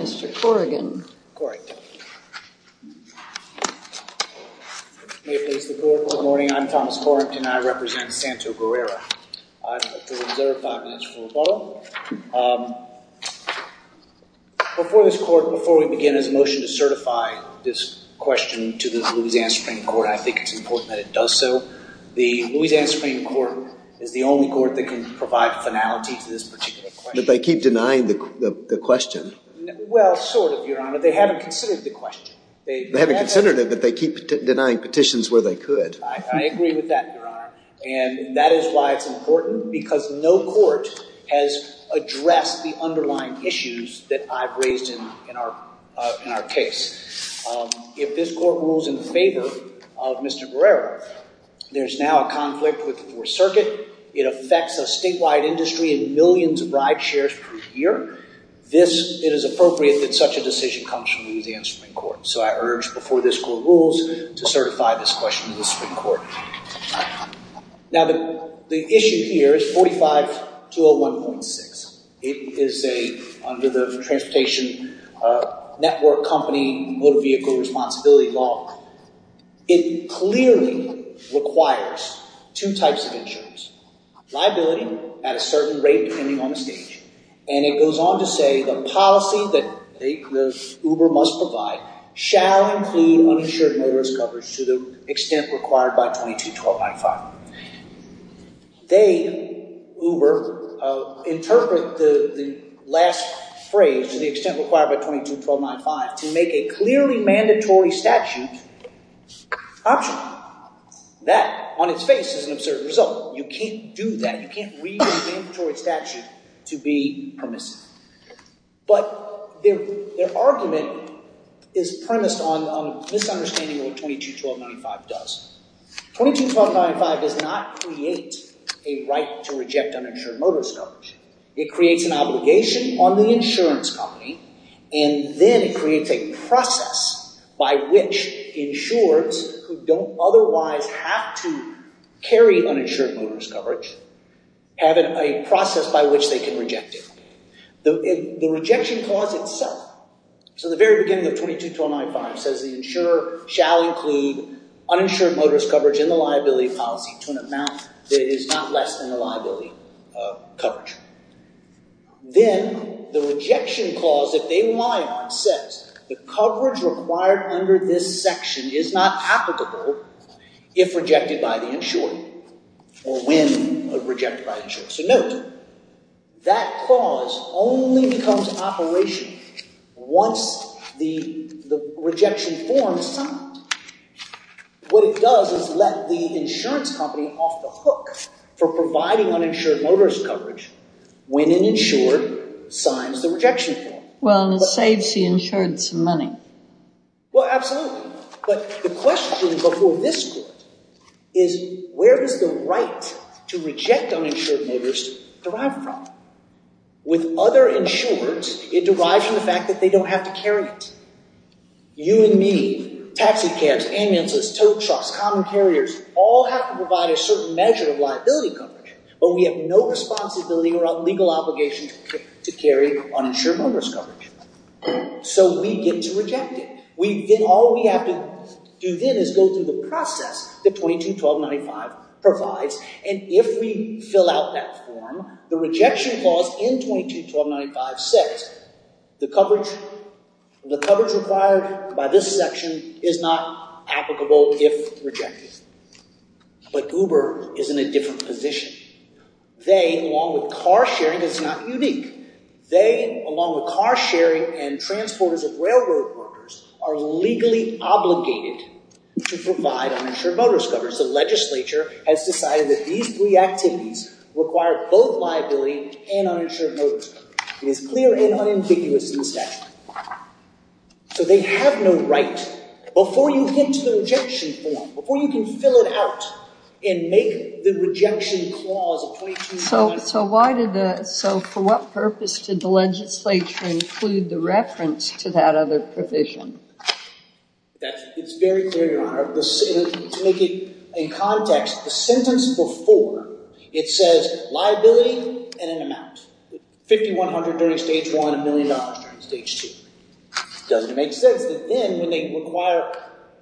Mr. Corrington. Good morning. I'm Thomas Corrington. I represent Santo Guerrera. Before we begin this motion to certify this question to the Louisiana Supreme Court, I think it's important that it does so. The Louisiana Supreme Court is the only court that can provide finality to this particular question. But they keep denying the question. Well, sort of, Your Honor. They haven't considered the question. They haven't considered it, but they keep denying petitions where they could. I agree with that, Your Honor. And that is why it's important because no court has addressed the underlying issues that I've raised in our case. If this court rules in favor of Mr. Guerrera, there's now a conflict with the Fourth Circuit. It affects a statewide industry and millions of ride shares per year. It is appropriate that such a decision comes from the Louisiana Supreme Court. So I urge, before this court rules, to certify this question to the Supreme Court. Now, the issue here is 45201.6. It is under the Transportation Network Company Motor Vehicle Responsibility Law. It clearly requires two types of insurance. Liability at a certain rate, depending on the stage. And it goes on to say, the policy that Uber must provide shall include uninsured motorist coverage to the extent required by 22-1295. They, Uber, interpret the last phrase, the extent required by 22-1295, to make a clearly mandatory statute optional. That, on its face, is an absurd result. You can't do that. You can't read a mandatory statute to be permissive. But their argument is premised on misunderstanding what 22-1295 does. 22-1295 does not create a right to reject uninsured motorist coverage. It creates an obligation on the insurance company. And then it creates a process by which insurers who don't otherwise have to carry uninsured motorist coverage have a process by which they can reject it. The rejection clause itself, so the very beginning of 22-1295, says the insurer shall include uninsured motorist coverage in the liability policy to an amount that is not less than the liability coverage. Then, the rejection clause that they rely on says, the coverage required under this section is not applicable if rejected by the insurer, or when rejected by the insurer. So note, that clause only becomes operational once the rejection form is signed. What it does is let the insurance company off the hook for providing uninsured motorist coverage when an insurer signs the rejection form. Well, and it saves the insurer some money. Well, absolutely. But the question before this court is, where does the right to reject uninsured motorist derive from? With other insurers, it derives from the fact that they don't have to carry it. You and me, taxi cabs, ambulances, tow trucks, common carriers, all have to provide a certain measure of liability coverage. But we have no responsibility or legal obligation to carry uninsured motorist coverage. So we get to reject it. All we have to do then is go through the process that 22-1295 provides. And if we fill out that form, the rejection clause in 22-1295 says, the coverage required by this section is not applicable if rejected. But Uber is in a different position. They, along with car sharing, because it's not unique. They, along with car sharing and transporters and railroad workers, are legally obligated to provide uninsured motorist coverage. The legislature has decided that these three activities require both liability and uninsured motorist coverage. It is clear and unambiguous in the statute. So they have no right. Before you get to the rejection form, before you can fill it out and make the rejection clause of 22-1295. So for what purpose did the legislature include the reference to that other provision? It's very clear, Your Honor. To make it in context, the sentence before, it says liability and an amount. $5,100 during stage one, $1,000,000 during stage two. Doesn't it make sense that then when they require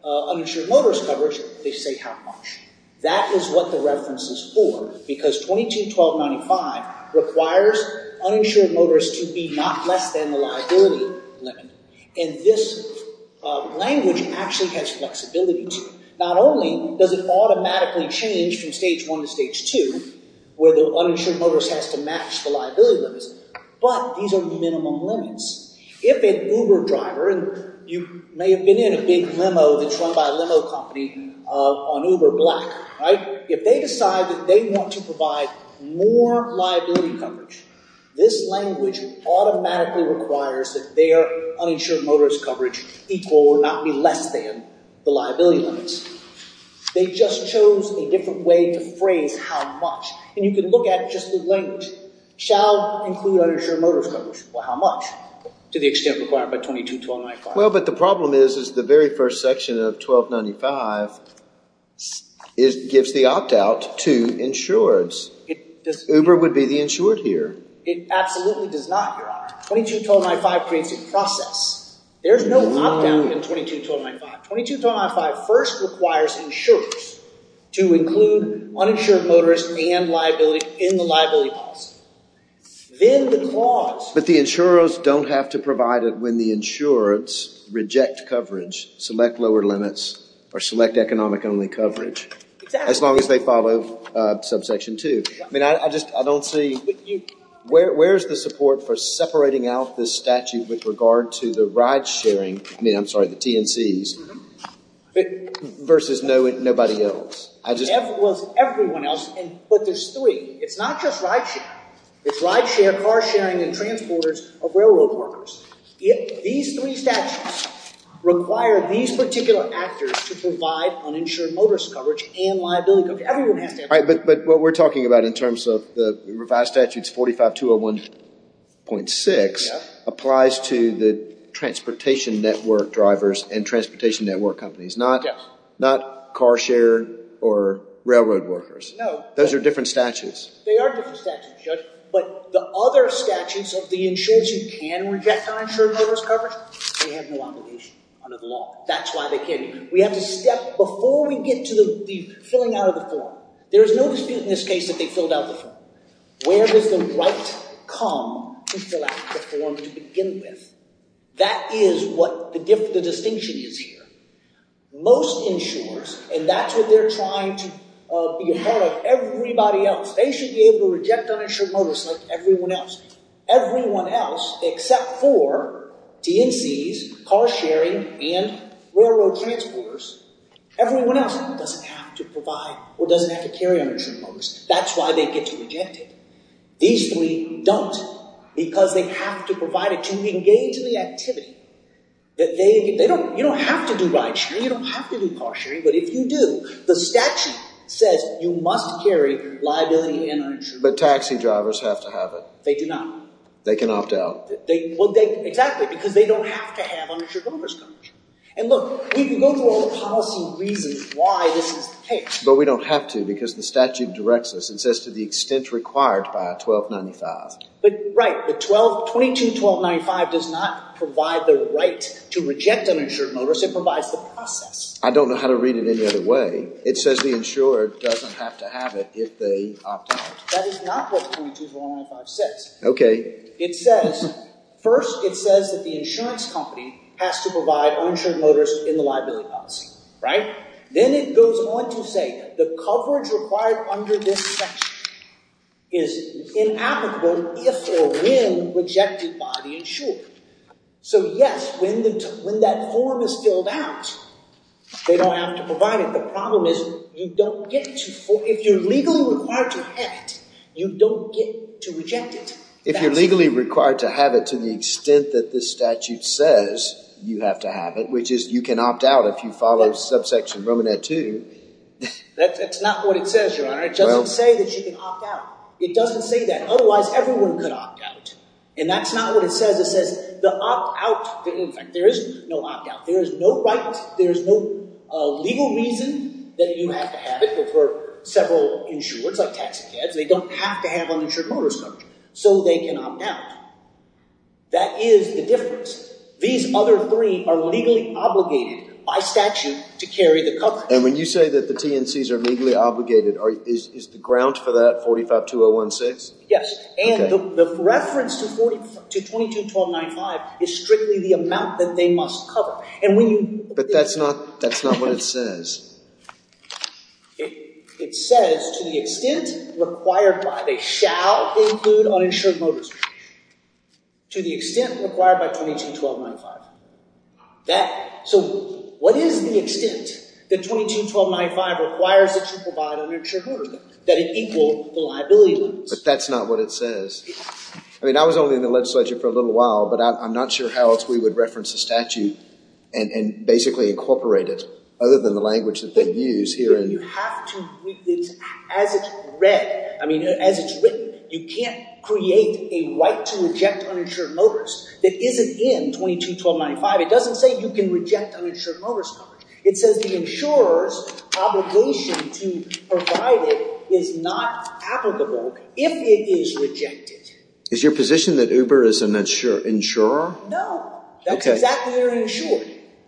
uninsured motorist coverage, they say how much? That is what the reference is for. Because 22-1295 requires uninsured motorist to be not less than the liability limit. And this language actually has flexibility to it. Not only does it automatically change from stage one to stage two, where the uninsured motorist has to match the liability limits. But these are minimum limits. If an Uber driver, and you may have been in a big limo that's run by a limo company on Uber Black, if they decide that they want to provide more liability coverage, this language automatically requires that their uninsured motorist coverage equal or not be less than the liability limits. They just chose a different way to phrase how much. And you can look at just the language. Shall include uninsured motorist coverage. Well, how much? To the extent required by 22-1295. Well, but the problem is the very first section of 1295 gives the opt-out to insureds. Uber would be the insured here. It absolutely does not, Your Honor. 22-1295 creates a process. There's no opt-out in 22-1295. 22-1295 first requires insurers to include uninsured motorist and liability in the liability policy. Then the clause. But the insurers don't have to provide it when the insureds reject coverage, select lower limits, or select economic-only coverage. Exactly. As long as they follow subsection 2. I mean, I just, I don't see, where's the support for separating out this statute with regard to the ride-sharing, I mean, I'm sorry, the TNCs, versus nobody else? Everyone else, but there's three. It's not just ride-sharing. It's ride-sharing, car-sharing, and transporters of railroad workers. These three statutes require these particular actors to provide uninsured motorist coverage and liability coverage. Everyone has to have it. But what we're talking about in terms of the revised statutes 45-201.6 applies to the transportation network drivers and transportation network companies. Yes. Not car share or railroad workers. No. Those are different statutes. They are different statutes, Judge. But the other statutes of the insurers who can reject uninsured motorist coverage, they have no obligation under the law. That's why they can't. We have to step, before we get to the filling out of the form, there is no dispute in this case that they filled out the form. Where does the right come to fill out the form to begin with? That is what the distinction is here. Most insurers, and that's what they're trying to be a part of, everybody else, they should be able to reject uninsured motorist like everyone else. Everyone else except for TNCs, car-sharing, and railroad transporters, everyone else doesn't have to provide or doesn't have to carry uninsured motorist. That's why they get to reject it. These three don't because they have to provide it to engage in the activity. You don't have to do ride-sharing. You don't have to do car-sharing. But if you do, the statute says you must carry liability and uninsured motorist coverage. But taxi drivers have to have it. They do not. They can opt out. Exactly, because they don't have to have uninsured motorist coverage. And look, we can go through all the policy reasons why this is the case. But we don't have to because the statute directs us and says to the extent required by 1295. But, right, the 12, 22-1295 does not provide the right to reject uninsured motorist. It provides the process. I don't know how to read it any other way. It says the insurer doesn't have to have it if they opt out. That is not what 22-1295 says. Okay. It says, first it says that the insurance company has to provide uninsured motorist in the liability policy, right? Then it goes on to say the coverage required under this section is inapplicable if or when rejected by the insurer. So, yes, when that form is filled out, they don't have to provide it. The problem is you don't get to. If you're legally required to have it, you don't get to reject it. If you're legally required to have it to the extent that this statute says you have to have it, which is you can opt out if you follow subsection Romanet 2. That's not what it says, Your Honor. It doesn't say that you can opt out. It doesn't say that. Otherwise, everyone could opt out. And that's not what it says. It says the opt out. In fact, there is no opt out. There is no right. There is no legal reason that you have to have it for several insurers like taxicabs. They don't have to have uninsured motorist coverage so they can opt out. That is the difference. These other three are legally obligated by statute to carry the coverage. And when you say that the TNCs are legally obligated, is the ground for that 452016? Yes. And the reference to 221295 is strictly the amount that they must cover. But that's not what it says. It says to the extent required by, they shall include uninsured motorist. To the extent required by 221295. So what is the extent that 221295 requires that you provide uninsured motorist, that it equal the liability limits? But that's not what it says. I mean, I was only in the legislature for a little while, but I'm not sure how else we would reference the statute and basically incorporate it other than the language that they use here. As it's written, you can't create a right to reject uninsured motorist that isn't in 221295. It doesn't say you can reject uninsured motorist coverage. It says the insurer's obligation to provide it is not applicable if it is rejected. Is your position that Uber is an insurer? No. That's exactly their insurer.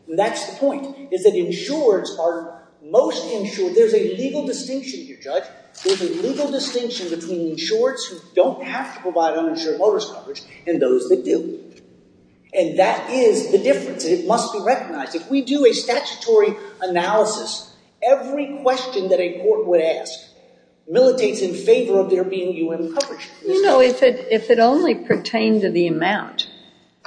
That's the point, is that insurers are most insured. There's a legal distinction here, Judge. There's a legal distinction between insurers who don't have to provide uninsured motorist coverage and those that do. And that is the difference. It must be recognized. If we do a statutory analysis, every question that a court would ask militates in favor of there being UN coverage. You know, if it only pertained to the amount,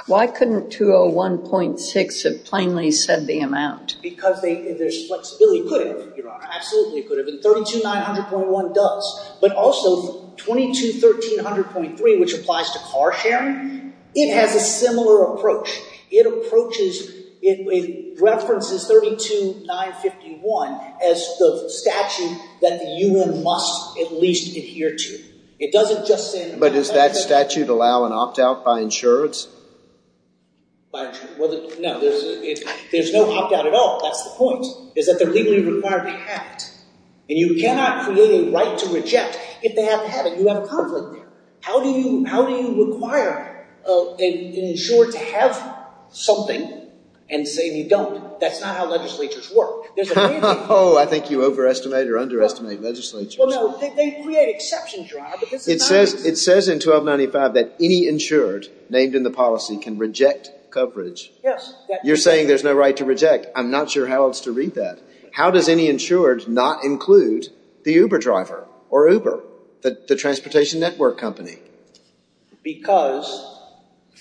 why couldn't 201.6 have plainly said the amount? Because there's flexibility. It could have, Your Honor. Absolutely, it could have. And 32900.1 does. But also, 221300.3, which applies to car sharing, it has a similar approach. It approaches, it references 32951 as the statute that the UN must at least adhere to. But does that statute allow an opt-out by insurance? No, there's no opt-out at all. That's the point, is that they're legally required to have it. And you cannot create a right to reject if they haven't had it. You have a conflict there. How do you require an insurer to have something and say you don't? That's not how legislatures work. Oh, I think you overestimate or underestimate legislatures. Well, no, they create exceptions, Your Honor. It says in 1295 that any insured named in the policy can reject coverage. Yes. You're saying there's no right to reject. I'm not sure how else to read that. How does any insured not include the Uber driver or Uber, the transportation network company? Because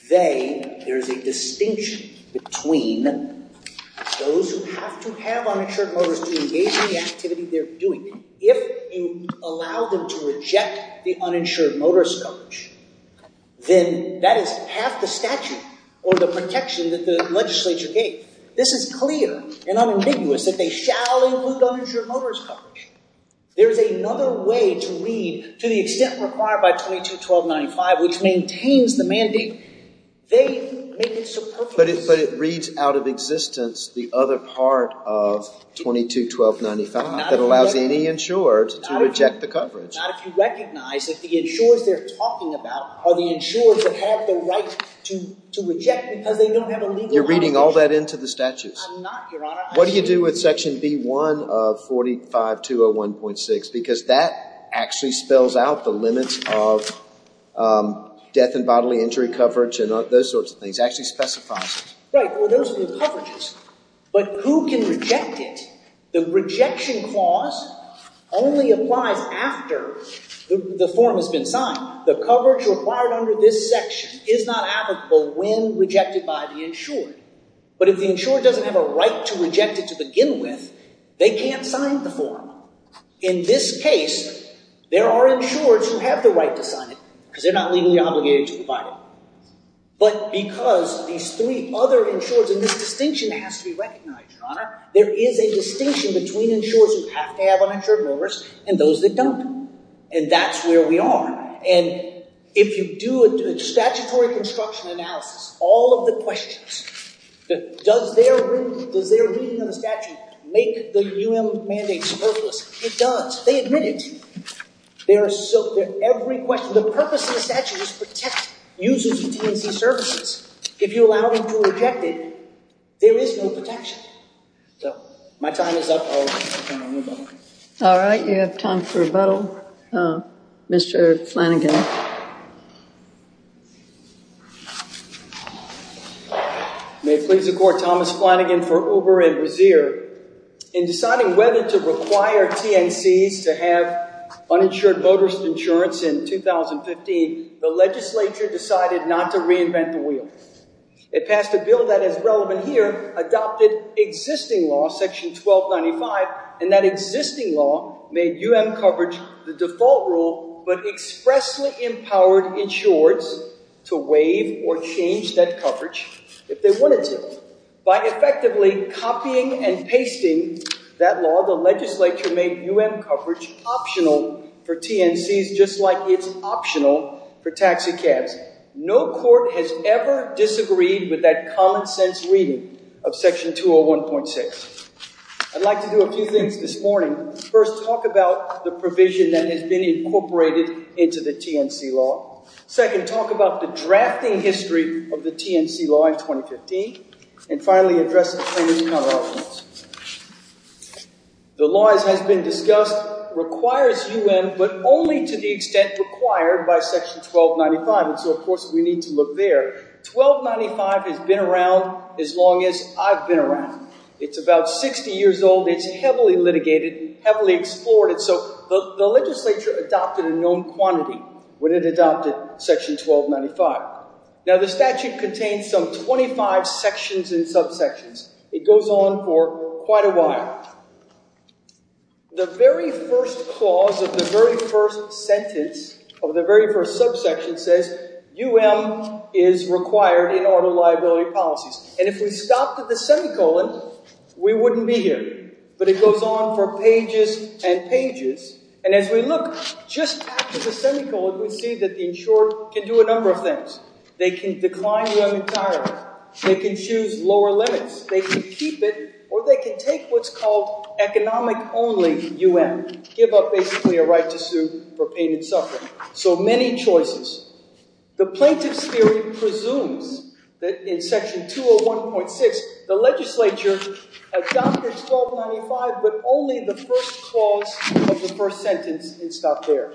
they, there's a distinction between those who have to have uninsured motors to engage in the activity they're doing. If you allow them to reject the uninsured motorist coverage, then that is half the statute or the protection that the legislature gave. This is clear and unambiguous that they shall include uninsured motorist coverage. There is another way to read, to the extent required by 22-1295, which maintains the mandate, they make it superfluous. But it reads out of existence the other part of 22-1295 that allows any insured to reject the coverage. Not if you recognize that the insurers they're talking about are the insurers that have the right to reject because they don't have a legal obligation. You're reading all that into the statutes. I'm not, Your Honor. What do you do with section B-1 of 45-201.6? Because that actually spells out the limits of death and bodily injury coverage and those sorts of things. It actually specifies it. Right. Well, those are the coverages. But who can reject it? The rejection clause only applies after the form has been signed. The coverage required under this section is not applicable when rejected by the insured. But if the insured doesn't have a right to reject it to begin with, they can't sign the form. In this case, there are insurers who have the right to sign it because they're not legally obligated to provide it. But because these three other insurers, and this distinction has to be recognized, Your Honor, there is a distinction between insurers who have to have uninsured motorists and those that don't. And that's where we are. And if you do a statutory construction analysis, all of the questions, does their reading of the statute make the U.M. mandate worthless? It does. They admit it. Every question. The purpose of the statute is to protect users of TNC services. If you allow them to reject it, there is no protection. So my time is up. All right. You have time for rebuttal. Mr. Flanagan. May it please the Court. Thomas Flanagan for Uber and Wazeer. In deciding whether to require TNCs to have uninsured motorist insurance in 2015, the legislature decided not to reinvent the wheel. It passed a bill that is relevant here, adopted existing law, section 1295, and that existing law made U.M. coverage the default rule but expressly empowered insurers to waive or change that coverage if they wanted to. By effectively copying and pasting that law, the legislature made U.M. coverage optional for TNCs just like it's optional for taxicabs. No court has ever disagreed with that common-sense reading of section 201.6. I'd like to do a few things this morning. First, talk about the provision that has been incorporated into the TNC law. Second, talk about the drafting history of the TNC law in 2015. And finally, address the claimant's color options. The law, as has been discussed, requires U.M. but only to the extent required by section 1295. And so, of course, we need to look there. 1295 has been around as long as I've been around. It's about 60 years old. It's heavily litigated, heavily explored. And so the legislature adopted a known quantity when it adopted section 1295. Now, the statute contains some 25 sections and subsections. It goes on for quite a while. The very first clause of the very first sentence of the very first subsection says U.M. is required in auto liability policies. And if we stopped at the semicolon, we wouldn't be here. But it goes on for pages and pages. And as we look just after the semicolon, we see that the insured can do a number of things. They can decline U.M. entirely. They can choose lower limits. They can keep it or they can take what's called economic only U.M. Give up basically a right to sue for pain and suffering. So many choices. The plaintiff's theory presumes that in section 201.6, the legislature adopted 1295 but only the first clause of the first sentence and stopped there.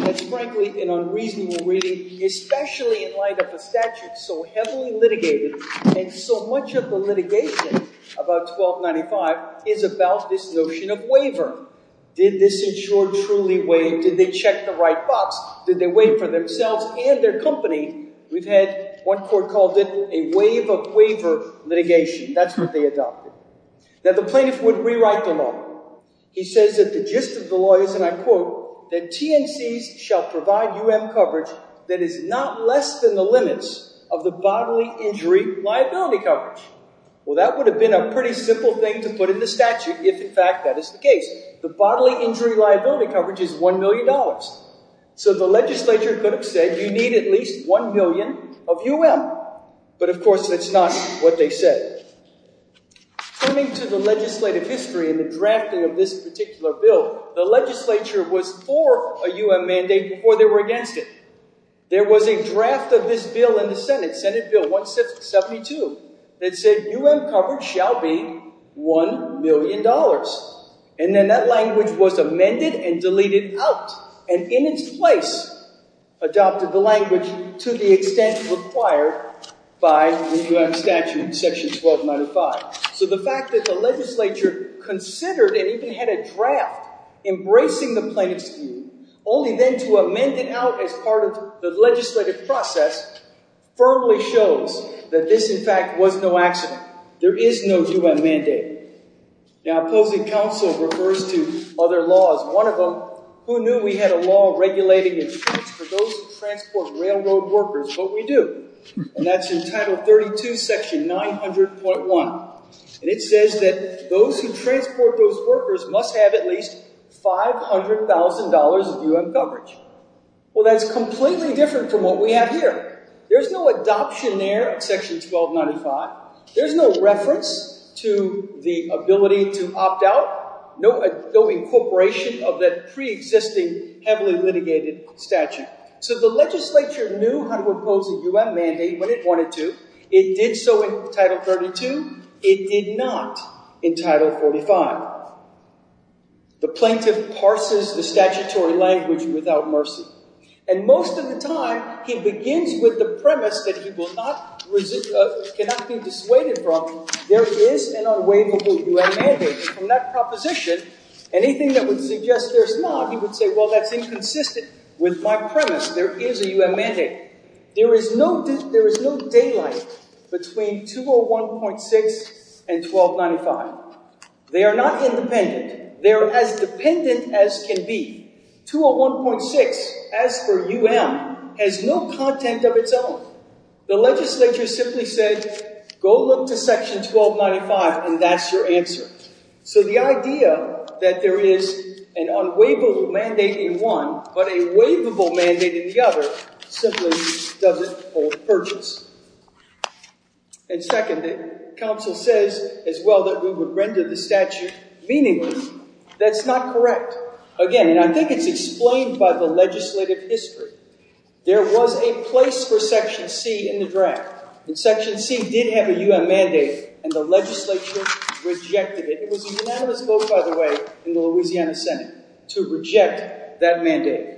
That's frankly an unreasonable reading, especially in light of the statute so heavily litigated. And so much of the litigation about 1295 is about this notion of waiver. Did this insurer truly wait? Did they check the right box? Did they wait for themselves and their company? We've had one court called it a wave of waiver litigation. That's what they adopted. Now, the plaintiff would rewrite the law. He says that the gist of the law is, and I quote, that TNCs shall provide U.M. coverage that is not less than the limits of the bodily injury liability coverage. Well, that would have been a pretty simple thing to put in the statute if, in fact, that is the case. The bodily injury liability coverage is $1 million. So the legislature could have said you need at least 1 million of U.M. But, of course, that's not what they said. Turning to the legislative history and the drafting of this particular bill, the legislature was for a U.M. mandate before they were against it. There was a draft of this bill in the Senate, Senate Bill 172, that said U.M. coverage shall be $1 million. And then that language was amended and deleted out and, in its place, adopted the language to the extent required by the U.M. statute, section 1295. So the fact that the legislature considered and even had a draft embracing the plaintiff's view, only then to amend it out as part of the legislative process, firmly shows that this, in fact, was no accident. There is no U.M. mandate. Now, opposing counsel refers to other laws. One of them, who knew we had a law regulating insurance for those who transport railroad workers, but we do. And that's in Title 32, section 900.1. And it says that those who transport those workers must have at least $500,000 of U.M. coverage. Well, that's completely different from what we have here. There's no adoption there of section 1295. There's no reference to the ability to opt out, no incorporation of that preexisting, heavily litigated statute. So the legislature knew how to impose a U.M. mandate when it wanted to. It did so in Title 32. It did not in Title 45. The plaintiff parses the statutory language without mercy. And most of the time, he begins with the premise that he cannot be dissuaded from, there is an unwaivable U.M. mandate. And from that proposition, anything that would suggest there's not, he would say, well, that's inconsistent with my premise. There is a U.M. mandate. There is no daylight between 201.6 and 1295. They are not independent. They are as dependent as can be. 201.6, as per U.M., has no content of its own. The legislature simply said, go look to section 1295, and that's your answer. So the idea that there is an unwaivable mandate in one but a waivable mandate in the other simply doesn't hold purgeance. And second, the counsel says as well that we would render the statute meaningless. That's not correct. Again, and I think it's explained by the legislative history, there was a place for section C in the draft. And section C did have a U.M. mandate, and the legislature rejected it. It was a unanimous vote, by the way, in the Louisiana Senate to reject that mandate.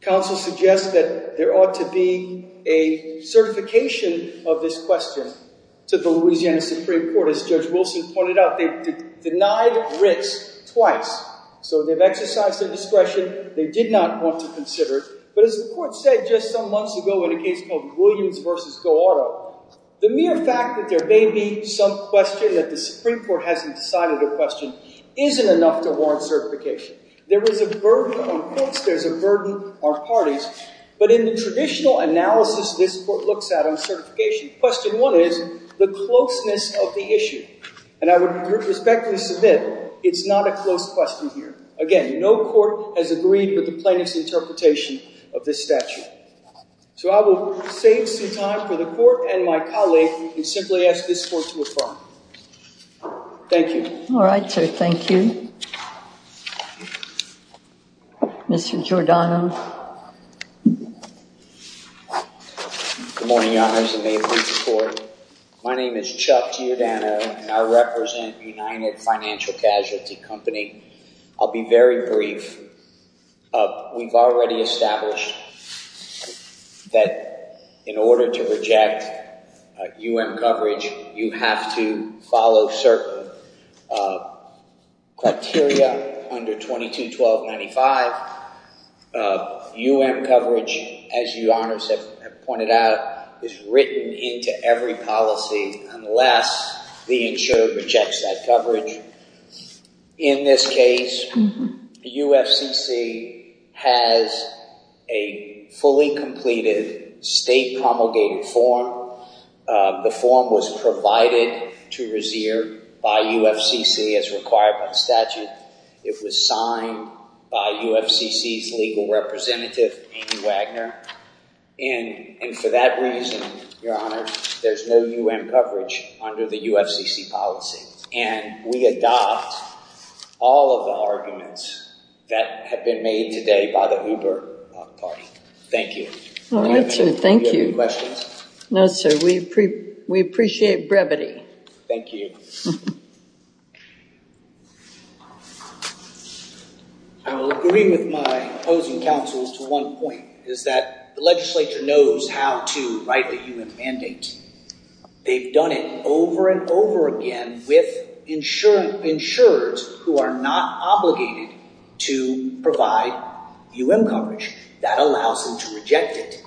Counsel suggests that there ought to be a certification of this question to the Louisiana Supreme Court. As Judge Wilson pointed out, they denied risk twice. So they've exercised their discretion. They did not want to consider it. But as the court said just some months ago in a case called Williams v. Go Auto, the mere fact that there may be some question that the Supreme Court hasn't decided a question isn't enough to warrant certification. There is a burden on folks. There's a burden on parties. But in the traditional analysis this court looks at on certification, question one is the closeness of the issue. And I would respectfully submit it's not a close question here. Again, no court has agreed with the plaintiff's interpretation of this statute. So I will save some time for the court and my colleague and simply ask this court to affirm. Thank you. All right, sir. Thank you. Mr. Giordano. Good morning, Your Honors, and may it please the Court. My name is Chuck Giordano, and I represent United Financial Casualty Company. I'll be very brief. We've already established that in order to reject U.M. coverage, you have to follow certain criteria under 22-1295. U.M. coverage, as you, Your Honors, have pointed out, is written into every policy unless the insurer rejects that coverage. In this case, the U.F.C.C. has a fully completed state promulgated form. The form was provided to Rezier by U.F.C.C. as required by statute. It was signed by U.F.C.C.'s legal representative, Amy Wagner. And for that reason, Your Honors, there's no U.M. coverage under the U.F.C.C. policy. And we adopt all of the arguments that have been made today by the Uber party. Thank you. All right, sir. Thank you. Do you have any questions? No, sir. We appreciate brevity. Thank you. I will agree with my opposing counsel to one point, is that the legislature knows how to write the U.M. mandate. They've done it over and over again with insurers who are not obligated to provide U.M. coverage. That allows them to reject it.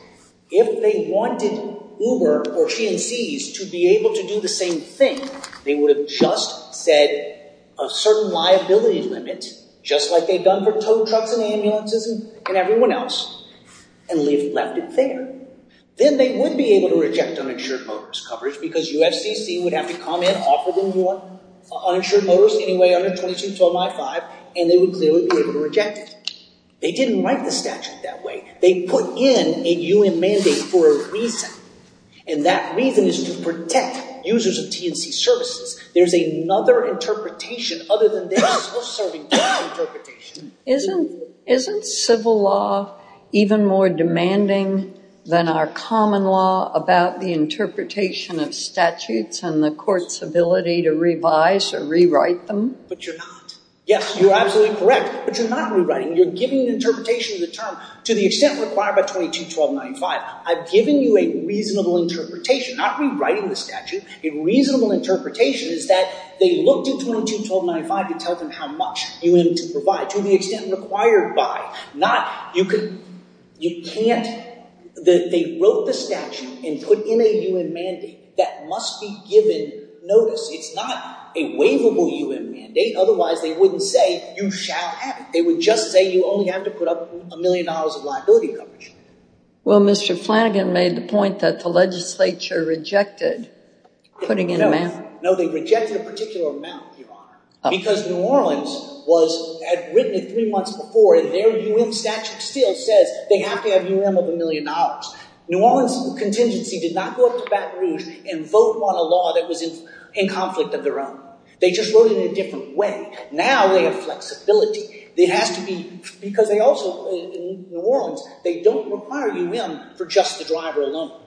If they wanted Uber or GNCs to be able to do the same thing, they would have just said a certain liability limit, just like they've done for tow trucks and ambulances and everyone else, and left it there. Then they would be able to reject uninsured motorist coverage because U.F.C.C. would have to come in, offer them more uninsured motorists, anyway, under 2212.5, and they would clearly be able to reject it. They didn't write the statute that way. They put in a U.M. mandate for a reason, and that reason is to protect users of TNC services. There's another interpretation other than this. We're serving that interpretation. Isn't civil law even more demanding than our common law about the interpretation of statutes and the court's ability to revise or rewrite them? But you're not. Yes, you're absolutely correct, but you're not rewriting. You're giving an interpretation of the term to the extent required by 2212.95. I've given you a reasonable interpretation, not rewriting the statute. A reasonable interpretation is that they looked at 2212.95 to tell them how much U.M. to provide, to the extent required by, not you can't. They wrote the statute and put in a U.M. mandate that must be given notice. It's not a waivable U.M. mandate. Otherwise, they wouldn't say you shall have it. They would just say you only have to put up a million dollars of liability coverage. Well, Mr. Flanagan made the point that the legislature rejected putting in a mandate. No, they rejected a particular amount, Your Honor, because New Orleans had written it three months before, and their U.M. statute still says they have to have U.M. of a million dollars. New Orleans contingency did not go up to Baton Rouge and vote on a law that was in conflict of their own. They just wrote it in a different way. Now they have flexibility. It has to be, because they also, in New Orleans, they don't require U.M. for just the driver alone.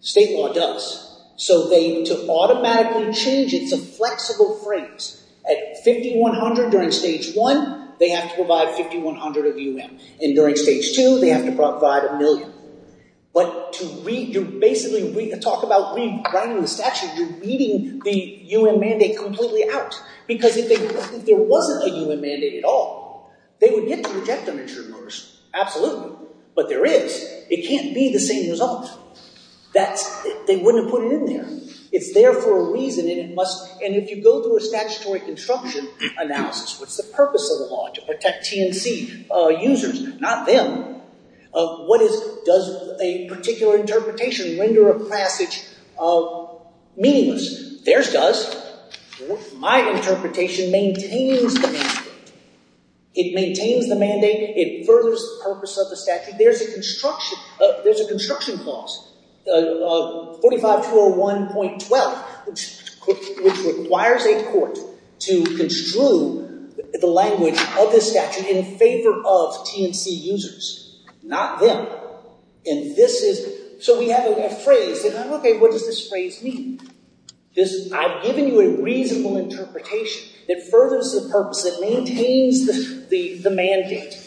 State law does. So to automatically change, it's a flexible phrase. At 5100 during Stage 1, they have to provide 5100 of U.M. And during Stage 2, they have to provide a million. But to basically talk about rewriting the statute, you're weeding the U.M. mandate completely out. Because if there wasn't a U.M. mandate at all, they would get to reject uninsured workers. Absolutely. But there is. It can't be the same result. They wouldn't have put it in there. It's there for a reason, and if you go through a statutory construction analysis, what's the purpose of the law? To protect TNC users, not them. Does a particular interpretation render a passage meaningless? Theirs does. My interpretation maintains the mandate. It maintains the mandate. It furthers the purpose of the statute. There's a construction clause, 45201.12, which requires a court to construe the language of the statute in favor of TNC users, not them. And this is, so we have a phrase, and I'm like, okay, what does this phrase mean? I've given you a reasonable interpretation. It furthers the purpose. It maintains the mandate.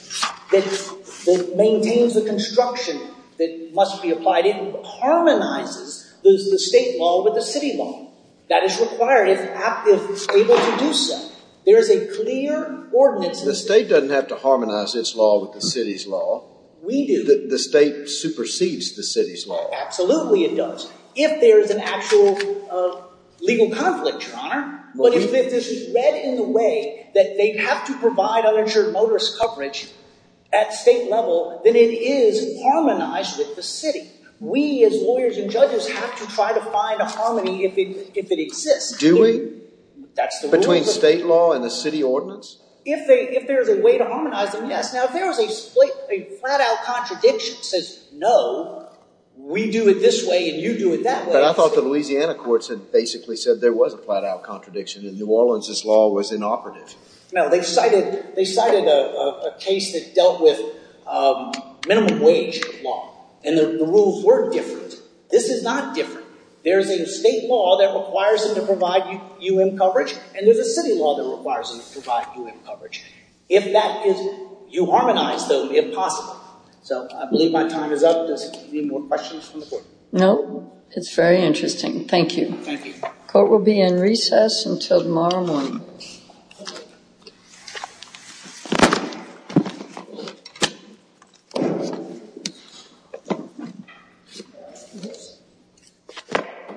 It maintains the construction that must be applied. It harmonizes the state law with the city law. That is required if able to do so. There is a clear ordinance. The state doesn't have to harmonize its law with the city's law. We do. The state supersedes the city's law. Absolutely it does. If there is an actual legal conflict, Your Honor. But if it is read in the way that they have to provide uninsured motorist coverage at state level, then it is harmonized with the city. We as lawyers and judges have to try to find a harmony if it exists. Do we? That's the rule. Between state law and the city ordinance? If there is a way to harmonize them, yes. Now, if there is a flat-out contradiction that says, no, we do it this way and you do it that way. But I thought the Louisiana courts had basically said there was a flat-out contradiction. In New Orleans, this law was inoperative. No, they cited a case that dealt with minimum wage law. And the rules were different. This is not different. There is a state law that requires them to provide U.M. coverage, and there's a city law that requires them to provide U.M. coverage. If that is U-harmonized, though, it would be impossible. So I believe my time is up. Do you have any more questions from the court? No. It's very interesting. Thank you. Thank you. Court will be in recess until tomorrow morning.